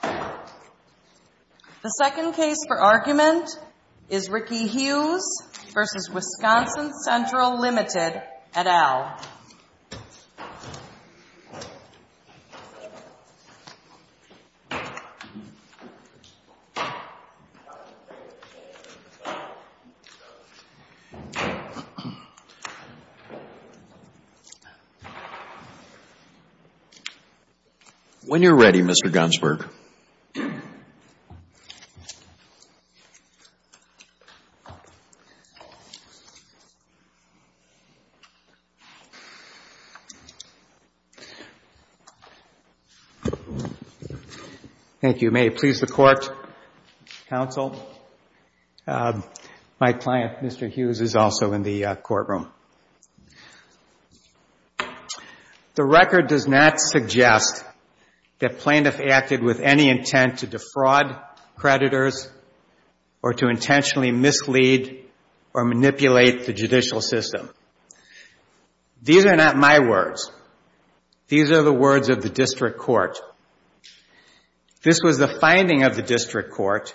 The second case for argument is Ricky Hughes v. Wisconsin Central, Ltd., et al. When you're ready, Mr. Gunsberg. Thank you. May it please the Court, counsel. My client, Mr. Hughes, is also in the courtroom. The record does not suggest that plaintiffs acted with any intent to defraud creditors or to intentionally mislead or manipulate the judicial system. These are not my words. These are the words of the district court. This was the finding of the district court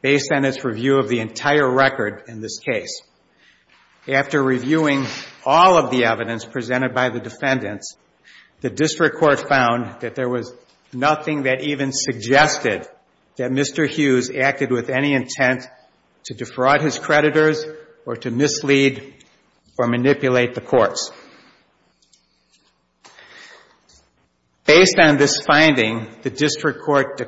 based on its review of the entire record in this case. After reviewing all of the evidence presented by the defendants, the district court found that there was nothing that even suggested that Mr. Hughes acted with any intent to defraud his creditors or to mislead or manipulate the courts. Based on this finding, the district court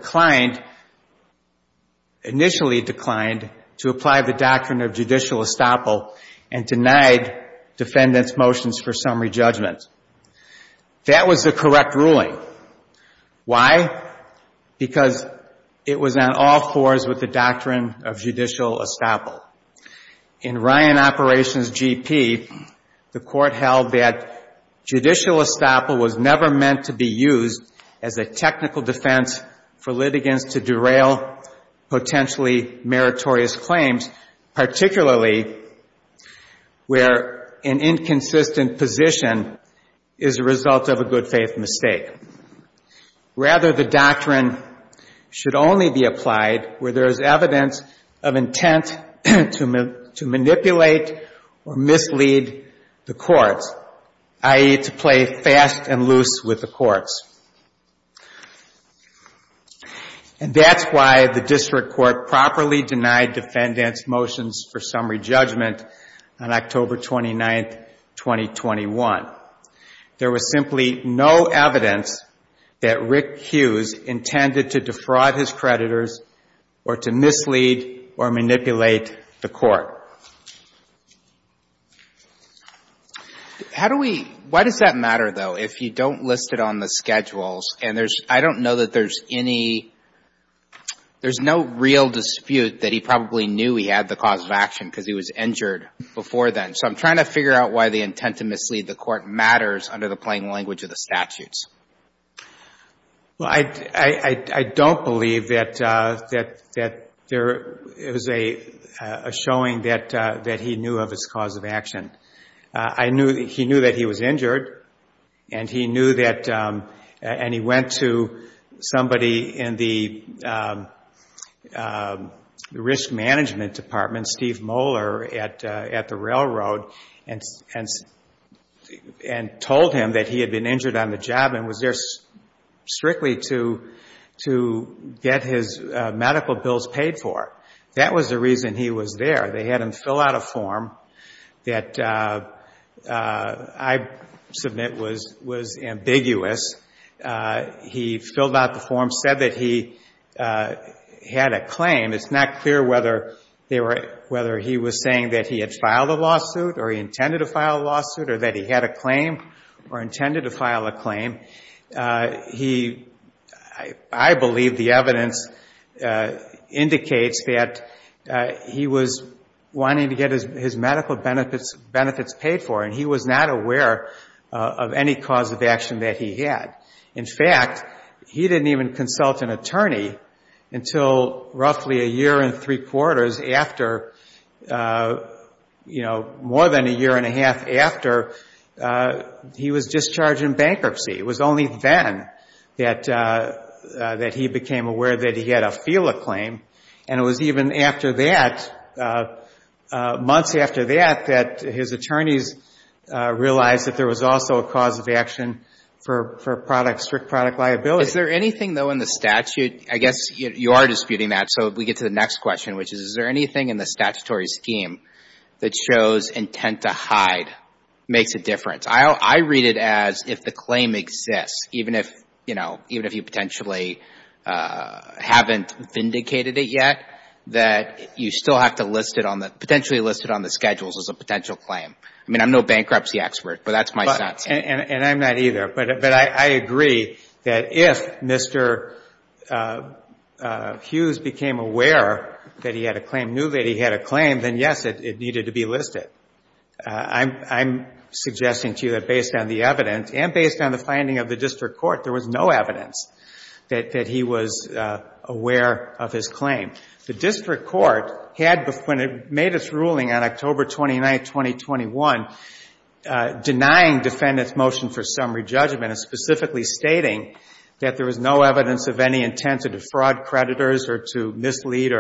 initially declined to apply the doctrine of judicial estoppel and denied defendants' motions for summary judgment. That was the correct ruling. Why? Because it was on all fours with the doctrine of judicial estoppel. In Ryan Operations GP, the court held that judicial estoppel was never meant to be used as a technical defense for litigants to derail potentially meritorious claims, particularly where an inconsistent position is a result of a good-faith mistake. Rather, the doctrine should only be applied where there is evidence of intent to manipulate or mislead the courts, i.e., to play fast and loose with the courts. And that's why the district court properly denied defendants' motions for summary judgment on October 29, 2021. There was simply no evidence that Rick Hughes intended to defraud his creditors or to mislead or manipulate the court. How do we — why does that matter, though, if you don't list it on the schedules? And there's — I don't know that there's any — there's no real dispute that he probably knew he had the cause of action because he was injured before then. So I'm trying to figure out why the intent to mislead the court matters under the plain language of the statutes. Well, I don't believe that there is a showing that he knew of his cause of action. I knew — he knew that he was injured, and he knew that — and he went to somebody in the risk management department, Steve Moeller, at the railroad, and told him that he had been injured on the job and was there strictly to get his medical bills paid for. That was the reason he was there. They had him fill out a form that I submit was ambiguous. He filled out the form, said that he had a claim. It's not clear whether they were — whether he was saying that he had filed a lawsuit or he intended to file a lawsuit or that he had a claim or intended to file a claim. He — I believe the evidence indicates that he was wanting to get his medical benefits paid for, and he was not aware of any cause of action that he had. In fact, he didn't even consult an attorney until roughly a year and three quarters after — you know, more than a year and a half after he was discharged in bankruptcy. It was only then that he became aware that he had a FILA claim, and it was even after that, months after that, that his attorneys realized that there was also a cause of action for product — strict product liability. Is there anything, though, in the statute — I guess you are disputing that, so we get to the next question, which is, is there anything in the statutory scheme that shows intent to hide makes a difference? I read it as if the claim exists, even if — you know, even if you potentially haven't vindicated it yet, that you still have to list it on the — potentially list it on the schedules as a potential claim. I mean, I'm no bankruptcy expert, but that's my sense. And I'm not either. But I agree that if Mr. Hughes became aware that he had a claim, knew that he had a claim, then, yes, it needed to be listed. I'm suggesting to you that based on the evidence and based on the finding of the district court, there was no evidence that he was aware of his claim. The district court had — when it made its ruling on October 29, 2021, denying defendants' motion for summary judgment and specifically stating that there was no evidence of any intent to defraud creditors or to mislead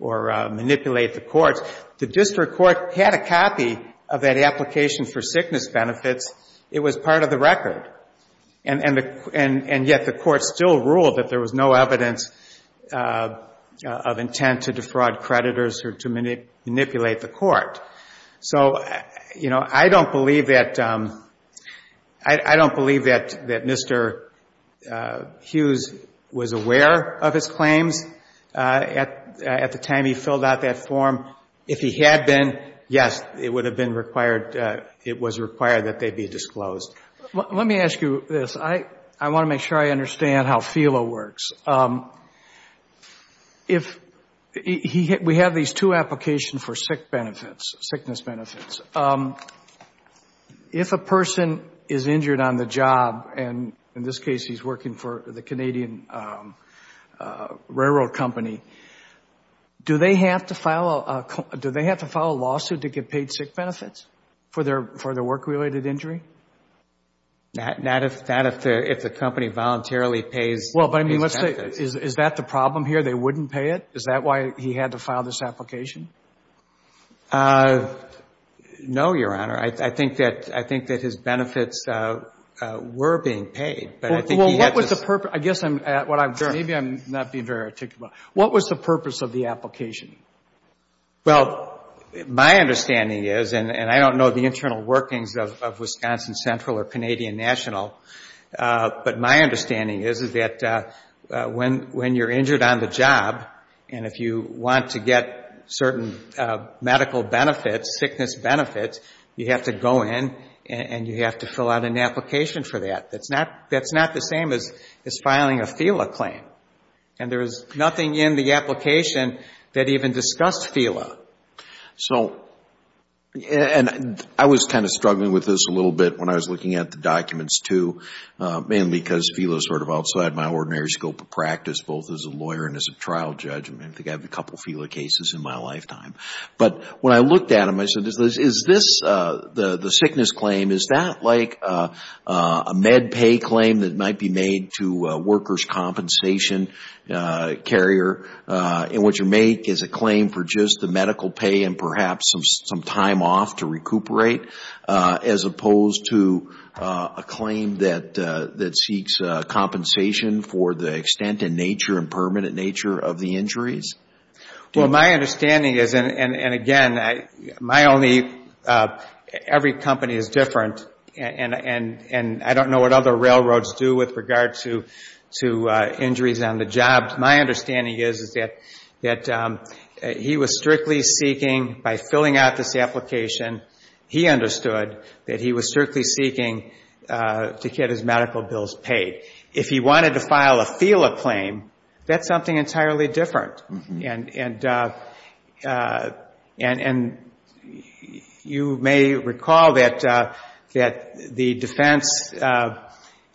or manipulate the courts, the district court had a copy of that application for sickness benefits. It was part of the record. And yet the court still ruled that there was no evidence of intent to defraud creditors or to manipulate the court. So, you know, I don't believe that — I don't believe that Mr. Hughes was aware of his claims at the time he filled out that form. If he had been, yes, it would have been required — it was required that they be disclosed. Let me ask you this. I want to make sure I understand how FELA works. If — we have these two applications for sick benefits, sickness benefits. If a person is injured on the job, and in this case he's working for the Canadian railroad company, do they have to file a lawsuit to get paid sick benefits for their work-related injury? Not if the company voluntarily pays his benefits. Well, but I mean, let's say — is that the problem here? They wouldn't pay it? Is that why he had to file this application? No, Your Honor. I think that his benefits were being paid. But I think he had to — Well, what was the purpose? I guess I'm — maybe I'm not being very articulate. What was the purpose of the application? Well, my understanding is, and I don't know the internal workings of Wisconsin Central or Canadian National, but my understanding is, is that when you're injured on the job, and if you want to get certain medical benefits, sickness benefits, you have to go in and you have to fill out an application for that. That's not the same as filing a FELA claim. And there is nothing in the application that even discussed FELA. So — and I was kind of struggling with this a little bit when I was looking at the documents, too, mainly because FELA is sort of outside my ordinary scope of practice, both as a lawyer and as a trial judge. I mean, I think I have a couple FELA cases in my lifetime. But when I looked at them, I said, is this — the sickness claim, is that like a MedPay claim that might be made to a workers' compensation carrier? And what you make is a claim for just the medical pay and perhaps some time off to recuperate, as opposed to a claim that seeks compensation for the extent and nature and permanent nature of the injuries? Well, my understanding is — and again, my only — every company is different, and I don't know what other railroads do with regard to injuries on the job. My understanding is that he was strictly seeking, by filling out this application, he understood that he was strictly seeking to get his medical bills paid. If he wanted to file a FELA claim, that's something entirely different. And you may recall that the defense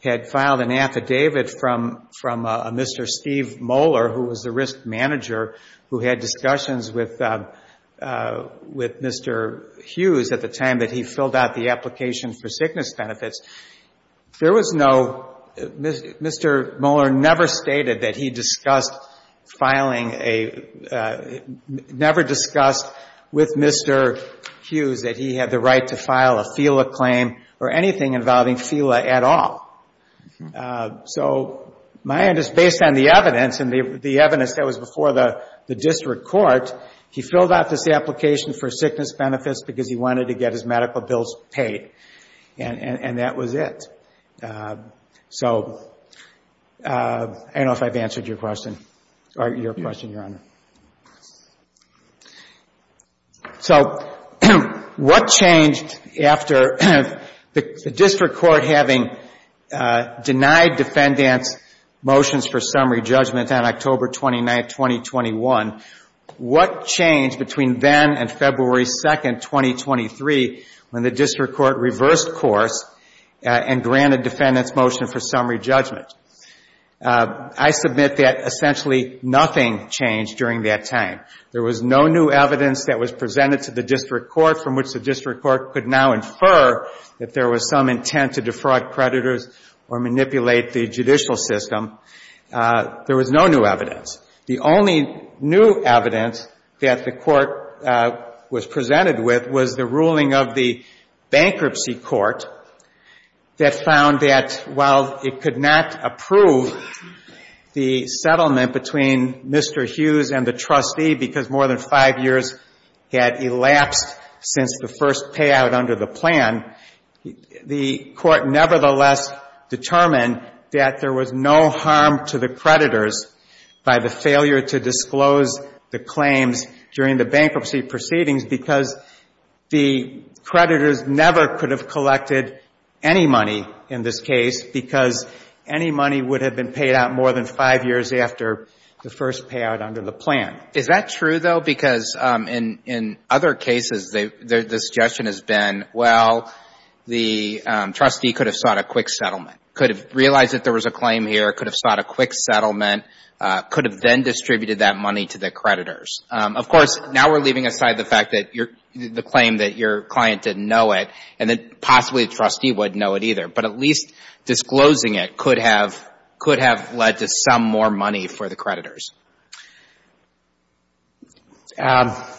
had filed an affidavit from a Mr. Steve Moeller, who was the risk manager who had discussions with Mr. Hughes at the time that he filled out the application for sickness benefits. There was no — Mr. Moeller never stated that he discussed filing a — never discussed with Mr. Hughes that he had the right to file a FELA claim or anything involving FELA at all. So my understanding is, based on the evidence, and the evidence that was before the district court, he filled out this application for sickness benefits because he wanted to get his medical bills paid. And that was it. So I don't know if I've answered your question, or your question, Your Honor. So what changed after the district court having denied defendants motions for summary judgment on October 29, 2021? What changed between then and February 2, 2023, when the district court reversed course and granted defendants motion for summary judgment? I submit that essentially nothing changed during that time. There was no new evidence that was presented to the district court from which the district court could now infer that there was some intent to defraud creditors or manipulate the judicial system. There was no new evidence. The only new evidence that the court was presented with was the ruling of the bankruptcy court that found that, while it could not approve the settlement between Mr. Hughes and the trustee, because more than five years had elapsed since the first payout under the plan, the court nevertheless determined that there was no harm to the creditors by the failure to disclose the claims during the bankruptcy proceedings because the creditors never could have collected any money in this case, because any money would have been paid out more than five years after the first payout under the plan. Is that true, though? Well, the trustee could have sought a quick settlement, could have realized that there was a claim here, could have sought a quick settlement, could have then distributed that money to the creditors. Of course, now we're leaving aside the fact that the claim that your client didn't know it, and then possibly the trustee wouldn't know it either, but at least disclosing it could have led to some more money for the creditors. That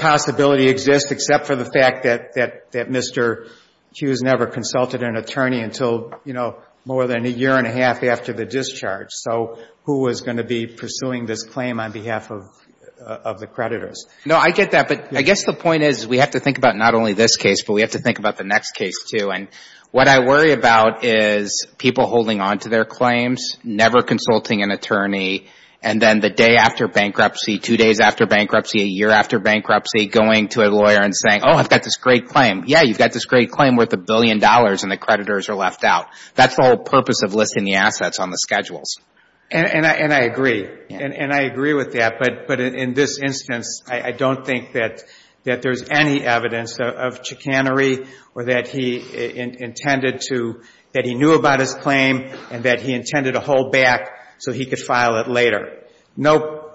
possibility exists, except for the fact that Mr. Hughes never consulted an attorney until, you know, more than a year and a half after the discharge. So who was going to be pursuing this claim on behalf of the creditors? No, I get that, but I guess the point is we have to think about not only this case, but we have to think about the next case, too. And what I worry about is people holding on to their claims, never consulting an attorney, and then the day after bankruptcy, two days after bankruptcy, a year after bankruptcy, going to a lawyer and saying, oh, I've got this great claim. Yeah, you've got this great claim worth a billion dollars, and the creditors are left out. That's the whole purpose of listing the assets on the schedules. And I agree, and I agree with that, but in this instance, I don't think that there's any evidence of chicanery or that he intended to — that he knew about his claim and that he intended to hold back so he could file it later. No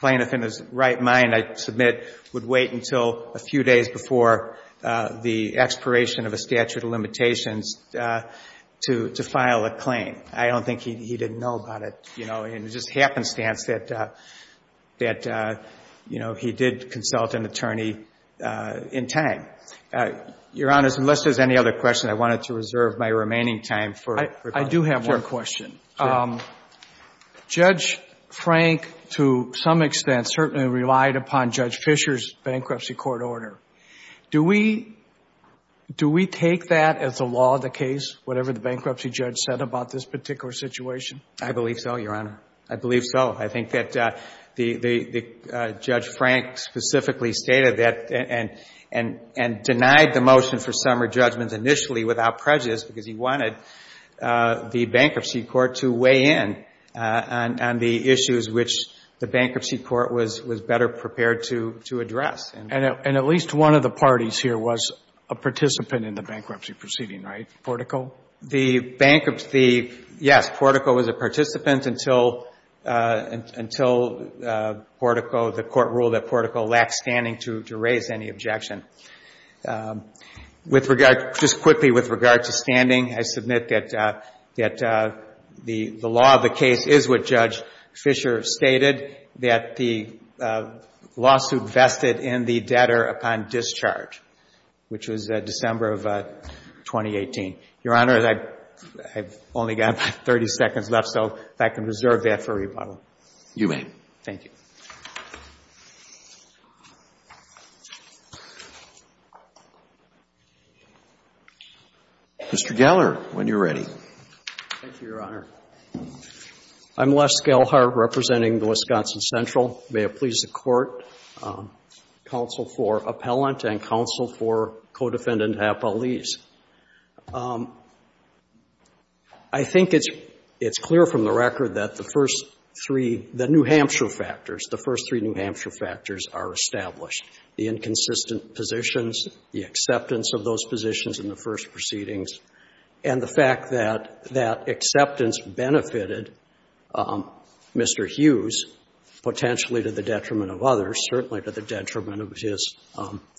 plaintiff in his right mind, I submit, would wait until a few days before the expiration of a statute of limitations to file a claim. I don't think he didn't know about it, you know, in the just happenstance that, you know, he did consult an attorney in time. Your Honor, unless there's any other questions, I wanted to reserve my remaining time for questions. I do have one question. Judge Frank, to some extent, certainly relied upon Judge Fisher's bankruptcy court order. Do we take that as the law of the case, whatever the bankruptcy judge said about this particular situation? I believe so, Your Honor. I believe so. I think that Judge Frank specifically stated that and denied the motion for summary judgment initially without prejudice because he wanted the bankruptcy court was better prepared to address. And at least one of the parties here was a participant in the bankruptcy proceeding, right, Portico? The bankruptcy — yes, Portico was a participant until Portico — the court ruled that Portico lacked standing to raise any objection. With regard — just quickly with regard to standing, I submit that the law of the case is what Judge Fisher stated. He stated that the lawsuit vested in the debtor upon discharge, which was December of 2018. Your Honor, I've only got about 30 seconds left, so if I can reserve that for rebuttal. You may. Mr. Geller, when you're ready. Thank you, Your Honor. I'm Les Gellhart representing the Wisconsin Central. May it please the Court, counsel for appellant and counsel for co-defendant to have police. I think it's clear from the record that the first three — the New Hampshire factors, the first three New Hampshire factors are established. The inconsistent positions, the acceptance of those positions in the first proceedings, and the fact that that acceptance benefited Mr. Hughes potentially to the detriment of others, certainly to the detriment of his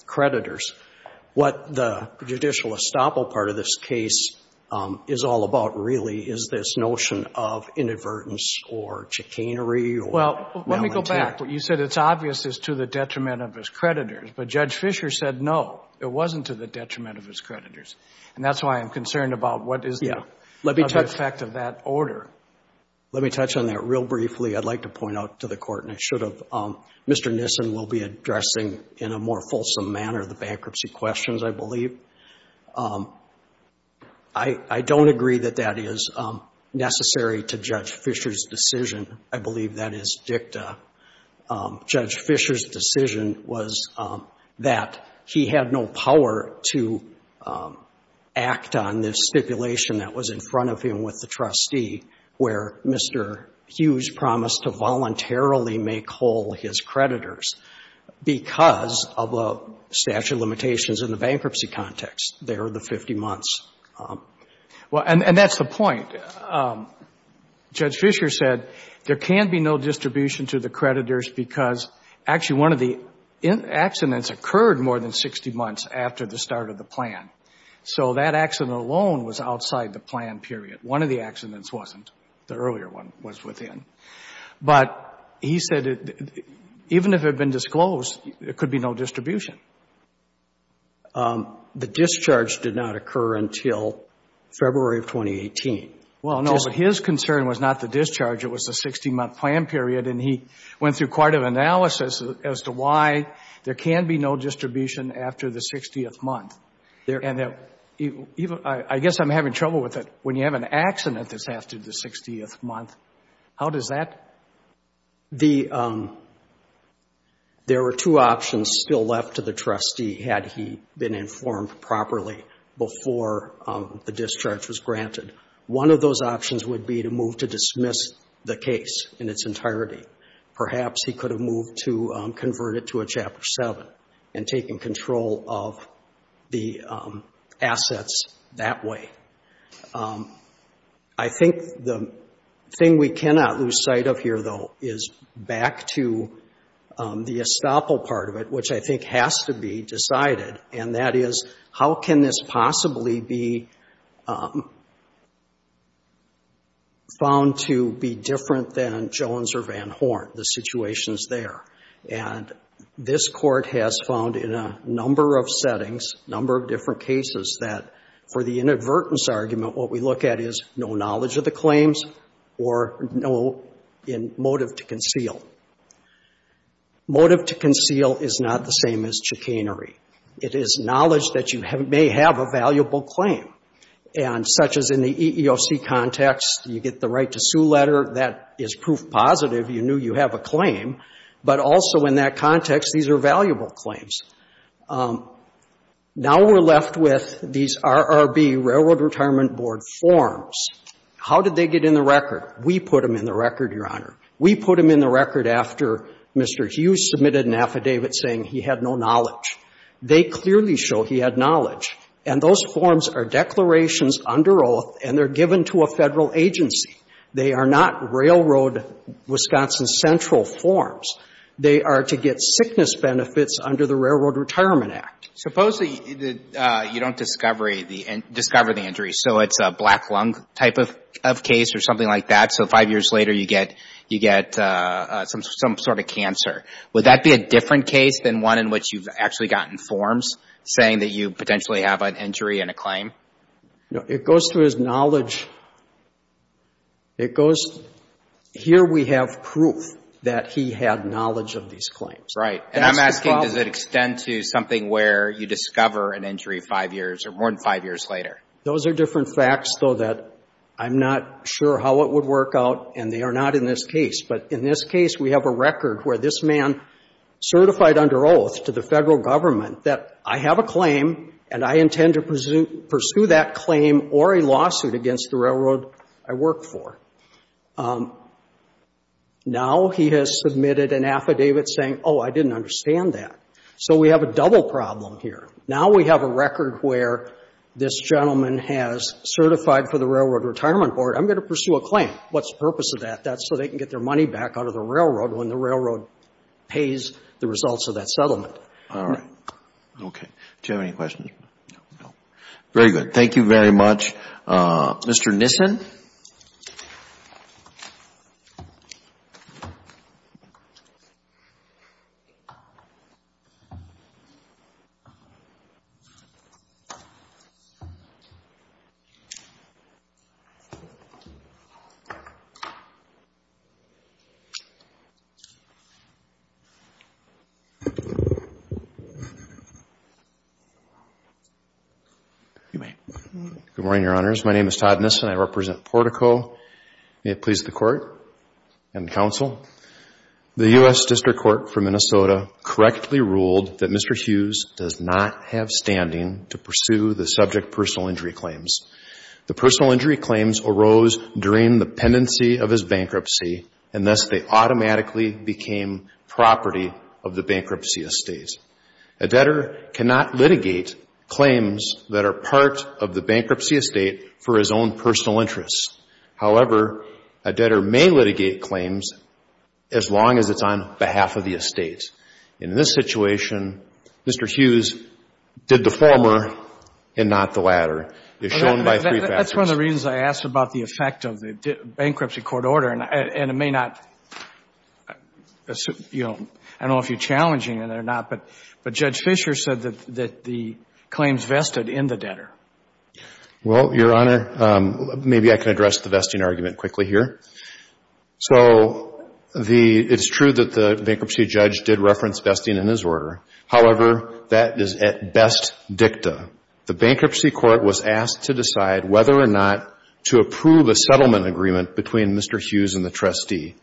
creditors. What the judicial estoppel part of this case is all about, really, is this notion of inadvertence or chicanery or malintent. You said it's obvious it's to the detriment of his creditors, but Judge Fischer said no, it wasn't to the detriment of his creditors. And that's why I'm concerned about what is the effect of that order. Let me touch on that real briefly. I'd like to point out to the Court, and I should have, Mr. Nissen will be addressing in a more fulsome manner the bankruptcy questions, I believe. I don't agree that that is necessary to Judge Fischer's decision. I believe that is dicta. Judge Fischer's decision was that he had no power to act on this stipulation that was in front of him with the trustee, where Mr. Hughes promised to voluntarily make whole his creditors. Because of the statute of limitations in the bankruptcy context, there are the 50 months. And that's the point. Judge Fischer said there can be no distribution to the creditors because actually one of the accidents occurred more than 60 months after the start of the plan. So that accident alone was outside the plan period. One of the accidents wasn't. The earlier one was within. But he said even if it had been decided and disclosed, there could be no distribution. The discharge did not occur until February of 2018. Well, no, but his concern was not the discharge. It was the 60-month plan period. And he went through quite an analysis as to why there can be no distribution after the 60th month. And I guess I'm having trouble with it. When you have an accident that's after the 60th month, how does that? There were two options still left to the trustee had he been informed properly before the discharge was granted. One of those options would be to move to dismiss the case in its entirety. Perhaps he could have moved to convert it to a Chapter 7 and taken control of the assets that way. I think the thing we cannot lose sight of here, though, is back to the estoppel part of it, which I think has to be decided. And that is, how can this possibly be found to be different than Jones or Van Horn, the situations there? And this Court has found in a number of settings, a number of different cases, that for the inadvertence argument, what we look at is no knowledge of the claims or no motive to conceal. Motive to conceal is not the same as chicanery. It is knowledge that you may have a valuable claim. And such as in the EEOC context, you get the right to sue letter. That is proof positive you knew you have a claim. But also in that context, these are valuable claims. Now we're left with these RRB, Railroad Retirement Board, forms. How did they get in the record? We put them in the record, Your Honor. We put them in the record after Mr. Hughes submitted an affidavit saying he had no knowledge. They clearly show he had knowledge. And those forms are declarations under oath, and they're given to a Federal agency. They are not Railroad Wisconsin Central forms. They are to get sickness benefits under the Railroad Retirement Act. Supposedly, you don't discover the injury. So it's a black lung type of case or something like that. So five years later, you get some sort of cancer. Would that be a different case than one in which you've actually gotten forms saying that you potentially have an injury and a claim? No. It goes to his knowledge. It goes, here we have proof that he had knowledge of these claims. Right. And I'm asking, does it extend to something where you discover an injury five years or more than five years later? Those are different facts, though, that I'm not sure how it would work out, and they say, I'm going to pursue that claim or a lawsuit against the railroad I work for. Now he has submitted an affidavit saying, oh, I didn't understand that. So we have a double problem here. Now we have a record where this gentleman has certified for the Railroad Retirement Board. I'm going to pursue a claim. What's the purpose of that? That's so they can get their money back out of the railroad when the railroad pays the results of that claim. Thank you very much, Mr. Nissen. Good morning, Your Honors. My name is Todd Nissen. I represent Portico. May it please the Court and the Counsel. The U.S. District Court for Minnesota correctly ruled that Mr. Hughes does not have standing to pursue the subject personal injury claims. The personal injury claims arose during the pendency of his bankruptcy, and thus they automatically became property of the bankruptcy estate. A debtor cannot litigate claims that are part of the bankruptcy estate for his own personal interests. However, a debtor may litigate claims as long as it's on behalf of the estate. In this situation, Mr. Hughes did the former and not the latter, as shown by three factors. That's one of the reasons I asked about the effect of the bankruptcy court order, and it may not be challenging or not, but Judge Fisher said that the claims vested in the debtor. Well, Your Honor, maybe I can address the vesting argument quickly here. So it's true that the bankruptcy judge did reference vesting in his order. However, that is at best dicta. The bankruptcy court was asked to decide whether or not to approve a settlement agreement between Mr. Hughes and the debtor,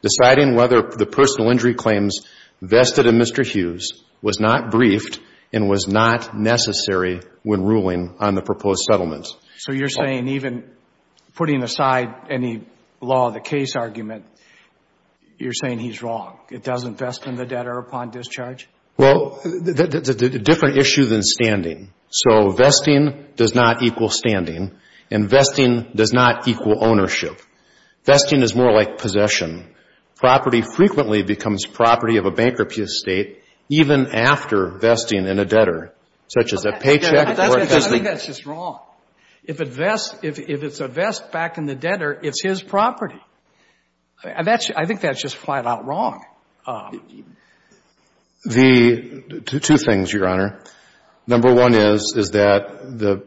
deciding whether the personal injury claims vested in Mr. Hughes was not briefed and was not necessary when ruling on the proposed settlement. So you're saying even putting aside any law, the case argument, you're saying he's wrong. It doesn't vest in the debtor upon discharge? Well, a different issue than standing. So vesting does not equal standing, and vesting does not equal ownership. Vesting is more like possession. Property frequently becomes property of a bankruptcy estate even after vesting in a debtor, such as a paycheck or a cousin. I think that's just wrong. If it's a vest back in the debtor, it's his property. I think that's just flat-out wrong. Two things, Your Honor. Number one is, is that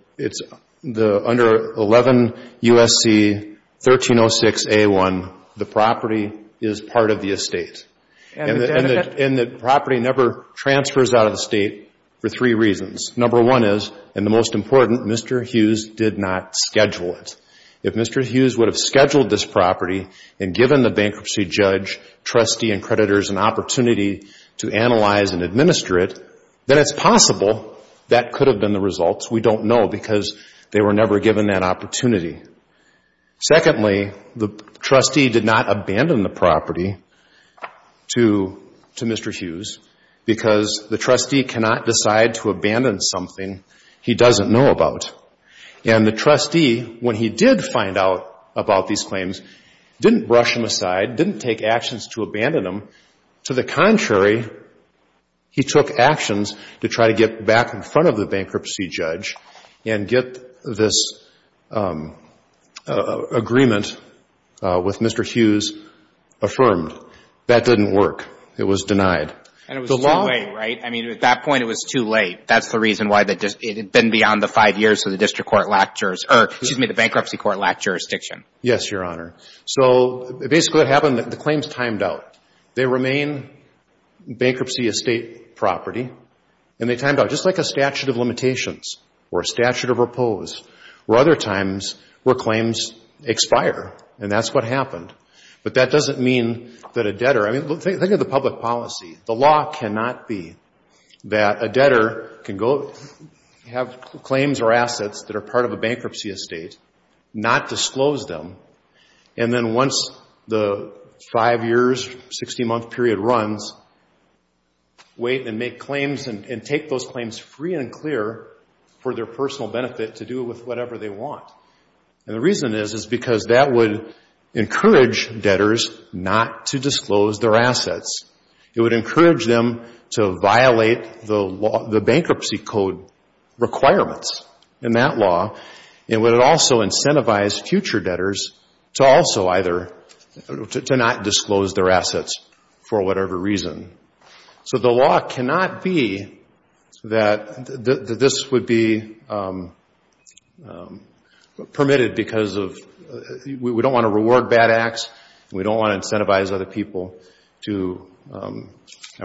under 11 U.S.C. 1306A1, the property is part of the estate. And the property never transfers out of the state for three reasons. Number one is, and the most important, Mr. Hughes did not schedule it. If Mr. Hughes would have scheduled this property and given the bankruptcy judge, trustee, and creditors an opportunity to analyze and administer it, then it's possible that could have been the result. We don't know, because they were never given that opportunity. Secondly, the trustee did not abandon the property to Mr. Hughes, because the trustee cannot decide to abandon something he doesn't know about. And the trustee, when he did find out about these claims, didn't brush them aside, didn't take actions to abandon them. To the contrary, he took actions to try to get back in front of the bankruptcy judge and get this agreement with Mr. Hughes affirmed. That didn't work. It was denied. And it was too late, right? I mean, at that point it was too late. That's the reason why it had been beyond the five years that the district court lacked jurisdiction, or excuse me, the bankruptcy court lacked jurisdiction. Yes, Your Honor. So basically what happened, the claims timed out. They remain bankruptcy estate property, and they timed out, just like a statute of limitations or a statute of repose or other times where claims expire. And that's what happened. But that doesn't mean that a debtor, I mean, think of the public policy. The law cannot be that a debtor can go have claims or assets that are part of a bankruptcy estate, not disclose them, and then once the five years, 16-month period runs, wait and make claims and take those claims free and clear for their personal benefit to do with whatever they want. And the reason is, is because that would encourage debtors not to disclose their assets. It would encourage them to violate the bankruptcy code requirements in that law, and would it also incentivize future debtors to also either, to not disclose their assets for whatever reason. So the law cannot be that this would be permitted because of, we don't want to reward bad acts, and we don't want to incentivize other people to, I'm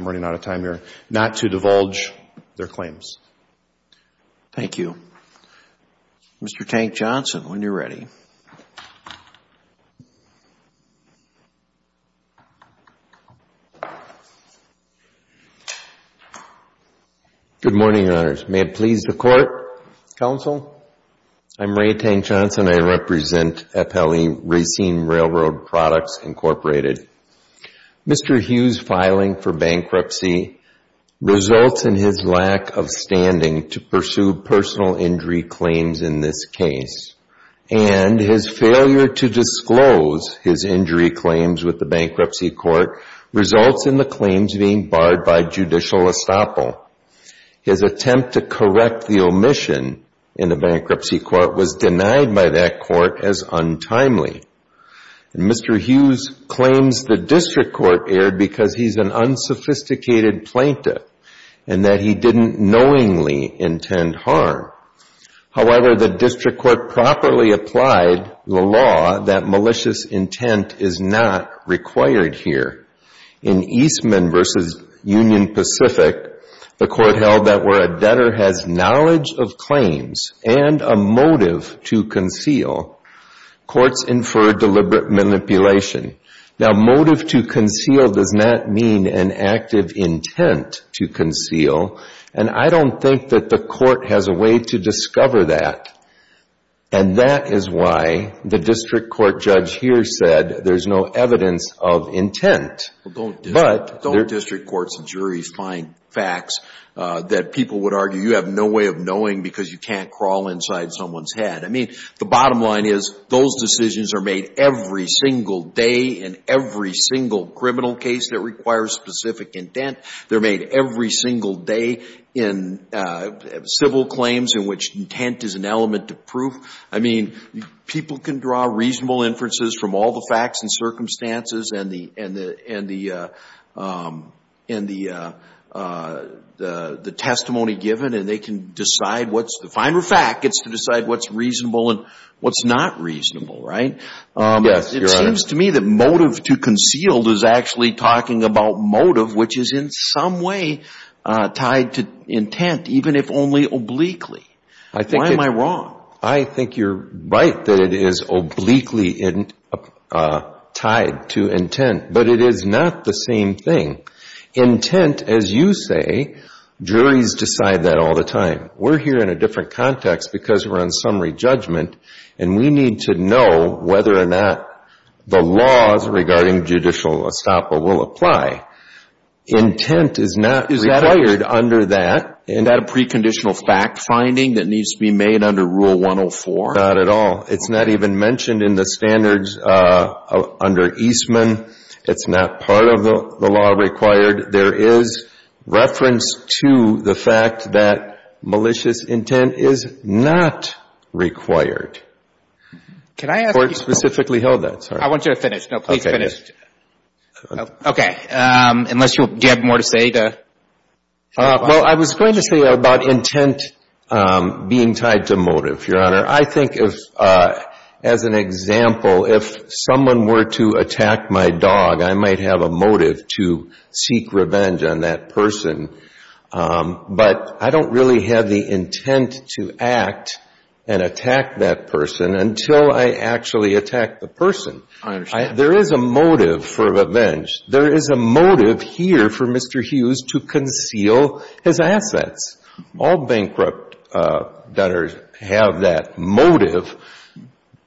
running out of time here, not to divulge their claims. Thank you. Mr. Tank-Johnson, when you're ready. Good morning, Your Honors. May it please the Court, Counsel? I'm Ray Tank-Johnson. I represent FLE Racine Railroad Products, Incorporated. Mr. Hughes' filing for bankruptcy results in his lack of standing to pursue personal injury claims in this case, and his failure to disclose his injury claims with the bankruptcy court results in the claims being barred by judicial estoppel. His attempt to correct the omission in the bankruptcy court was denied by that court as untimely. Mr. Hughes claims the district court erred because he's an unsophisticated plaintiff and that he didn't knowingly intend harm. However, the district court properly applied the law that malicious intent is not required here. In Eastman v. Union Pacific, the court held that where a debtor has knowledge of claims and a motive to conceal, courts infer deliberate manipulation. Now, motive to conceal does not mean an active intent to conceal, and I don't think that the court has a way to discover that. And that is why the district court judge here said there's no evidence of intent. But don't district courts and juries find facts that people would argue you have no way of knowing because you can't crawl inside someone's head? I mean, the bottom line is those decisions are made every single day in every single criminal case that requires specific intent. They're made every single day in civil claims in which intent is an element of proof. I mean, people can draw reasonable inferences from all the facts and circumstances and the testimony given and they can decide what's the final fact. It's to decide what's reasonable and what's not reasonable, right? Yes, Your Honor. It seems to me that motive to conceal is actually talking about motive, which is in some way tied to intent, even if only obliquely. Why am I wrong? I think you're right that it is obliquely tied to intent, but it is not the same thing. Intent, as you say, juries decide that all the time. We're here in a different context because we're on summary judgment and we need to know whether or not the laws regarding judicial estoppel will apply. Intent is not required under that. Is that a preconditional fact-finding that needs to be made under Rule 104? Not at all. It's not even mentioned in the standards under Eastman. It's not part of the law required. There is reference to the fact that malicious intent is not required. Court specifically held that. I want you to finish. No, please finish. Okay. Unless you have more to say. Well, I was going to say about intent being tied to motive, Your Honor. I think if, as an example, if someone were to attack my dog, I might have a motive to seek revenge on that person. But I don't really have the intent to act and attack that person until I actually attack the person. I understand. There is a motive for revenge. There is a motive here for Mr. Hughes to conceal his assets. All bankrupt debtors have that motive.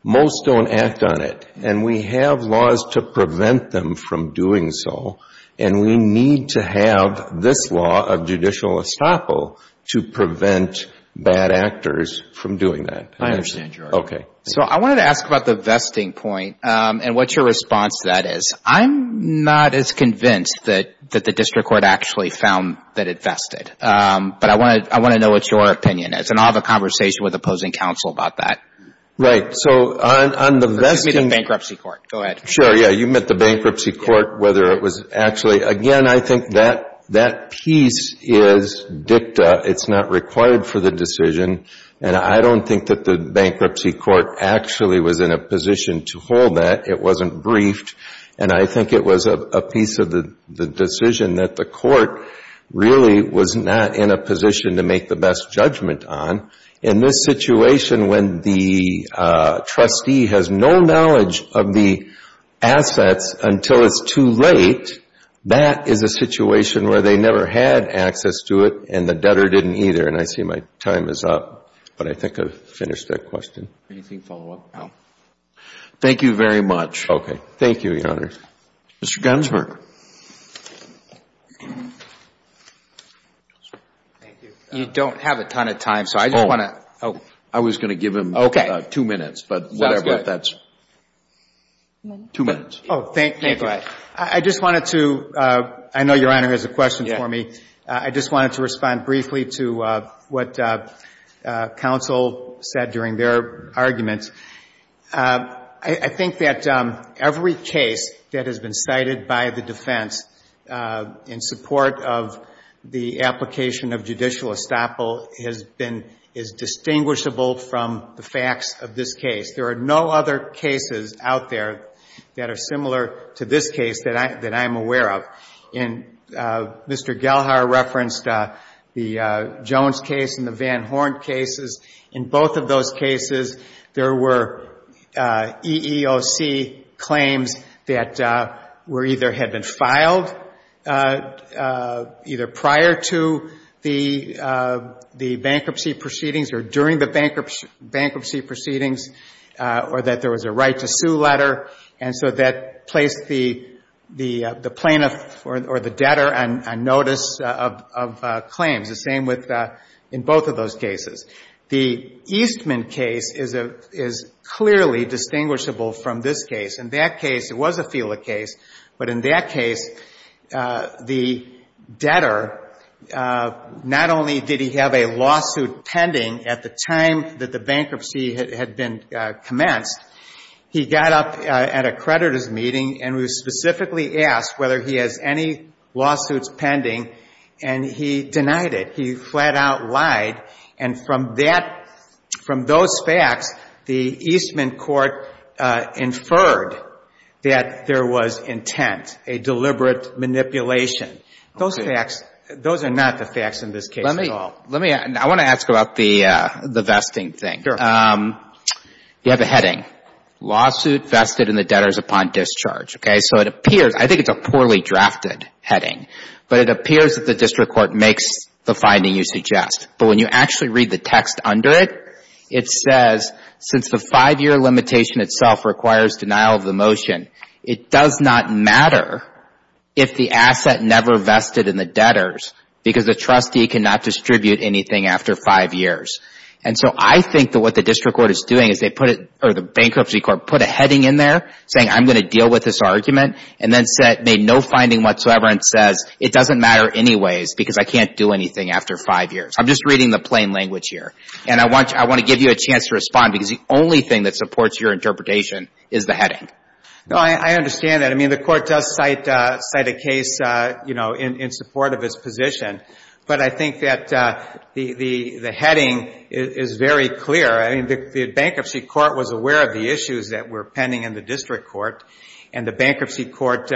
Most don't act on it. And we have laws to prevent them from doing so, and we need to have this law of judicial estoppel to prevent bad actors from doing that. I understand, Your Honor. Okay. So I wanted to ask about the vesting point and what your response to that is. I'm not as convinced that the district court actually found that it vested. But I want to know what your opinion is, and I'll have a conversation with opposing counsel about that. Right. So on the vesting — Give me the bankruptcy court. Go ahead. Sure. Yeah. You meant the bankruptcy court, whether it was actually — again, I think that piece is dicta. It's not required for the decision. And I don't think that the bankruptcy court actually was in a position to hold that. It wasn't briefed. And I think it was a piece of the decision that the court really was not in a position to make the best judgment on. In this situation, when the trustee has no knowledge of the assets until it's too late, that is a situation where they never had access to it, and the debtor didn't either. And I see my time is up, but I think I've finished that question. Anything follow-up, Al? Thank you very much. Okay. Thank you, Your Honor. Mr. Gonsberg. Thank you. You don't have a ton of time, so I just want to — I was going to give him two minutes, but whatever. That's good. Two minutes. Oh, thank you. Go ahead. I just wanted to — I know Your Honor has a question for me. Yeah. I just wanted to respond briefly to what counsel said during their argument. I think that every case that has been cited by the defense in support of the application of judicial estoppel has been — is distinguishable from the facts of this case. There are no other cases out there that are similar to this case that I'm aware of. And Mr. Gelhar referenced the Jones case and the Van Horn cases. In both of those cases, there were EEOC claims that were either — had been filed either prior to the bankruptcy proceedings or during the bankruptcy proceedings or that there was a right-to-sue letter. And so that placed the plaintiff or the debtor on notice of claims. The same with — in both of those cases. The Eastman case is clearly distinguishable from this case. In that case, it was a FILA case, but in that case, the debtor, not only did he have a lawsuit pending at the time that the bankruptcy had been commenced, he got up at a creditors' meeting and was specifically asked whether he has any lawsuits pending, and he denied it. He flat-out lied, and from that — from those facts, the Eastman court inferred that there was intent, a deliberate manipulation. Those facts — those are not the facts in this case at all. Let me — I want to ask about the vesting thing. Sure. You have a heading, Lawsuit Vested in the Debtors Upon Discharge. Okay? So it appears — I think it's a poorly drafted heading, but it appears that the district court makes the finding you suggest. But when you actually read the text under it, it says, Since the five-year limitation itself requires denial of the motion, it does not matter if the asset never vested in the debtors, because the trustee cannot distribute anything after five years. And so I think that what the district court is doing is they put it — or the bankruptcy court put a heading in there saying, I'm going to deal with this argument, and then said — made no finding whatsoever and says, It doesn't matter anyways, because I can't do anything after five years. I'm just reading the plain language here. And I want to give you a chance to respond, because the only thing that supports your interpretation is the heading. No, I understand that. I mean, the court does cite a case, you know, in support of its position. But I think that the heading is very clear. I mean, the bankruptcy court was aware of the issues that were pending in the district court, and the bankruptcy court,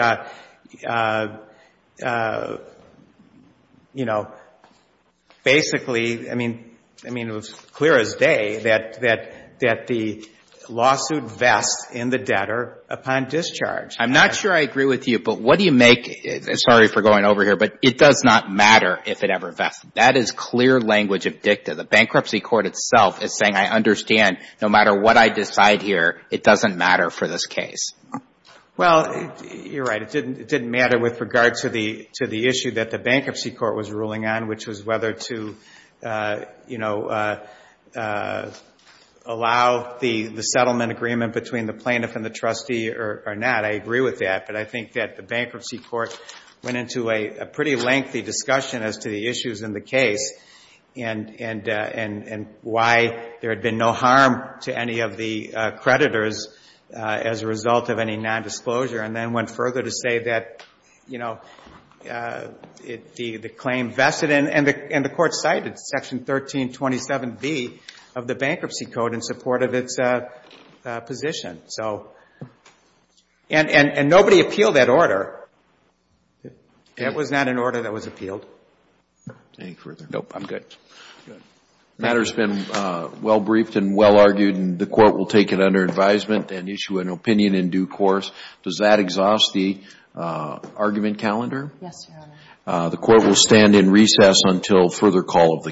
you know, basically — I mean, it was clear as day that the lawsuit vests in the debtor upon discharge. I'm not sure I agree with you, but what do you make — sorry for going over here, but it does not matter if it ever vested. That is clear language of dicta. The bankruptcy court itself is saying, I understand, no matter what I decide here, it doesn't matter for this case. Well, you're right. It didn't matter with regard to the issue that the bankruptcy court was ruling on, which was whether to, you know, allow the settlement agreement between the plaintiff and the trustee or not. I agree with that. But I think that the bankruptcy court went into a pretty lengthy discussion as to the issues in the case and why there had been no harm to any of the creditors as a result of any nondisclosure, and then went further to say that, you know, the claim vested in — and the court cited Section 1327B of the bankruptcy code in support of its position. And nobody appealed that order. It was not an order that was appealed. Any further? No, I'm good. The matter's been well briefed and well argued, and the court will take it under advisement and issue an opinion in due course. Does that exhaust the argument calendar? Yes, Your Honor. The court will stand in recess until further call of the calendar.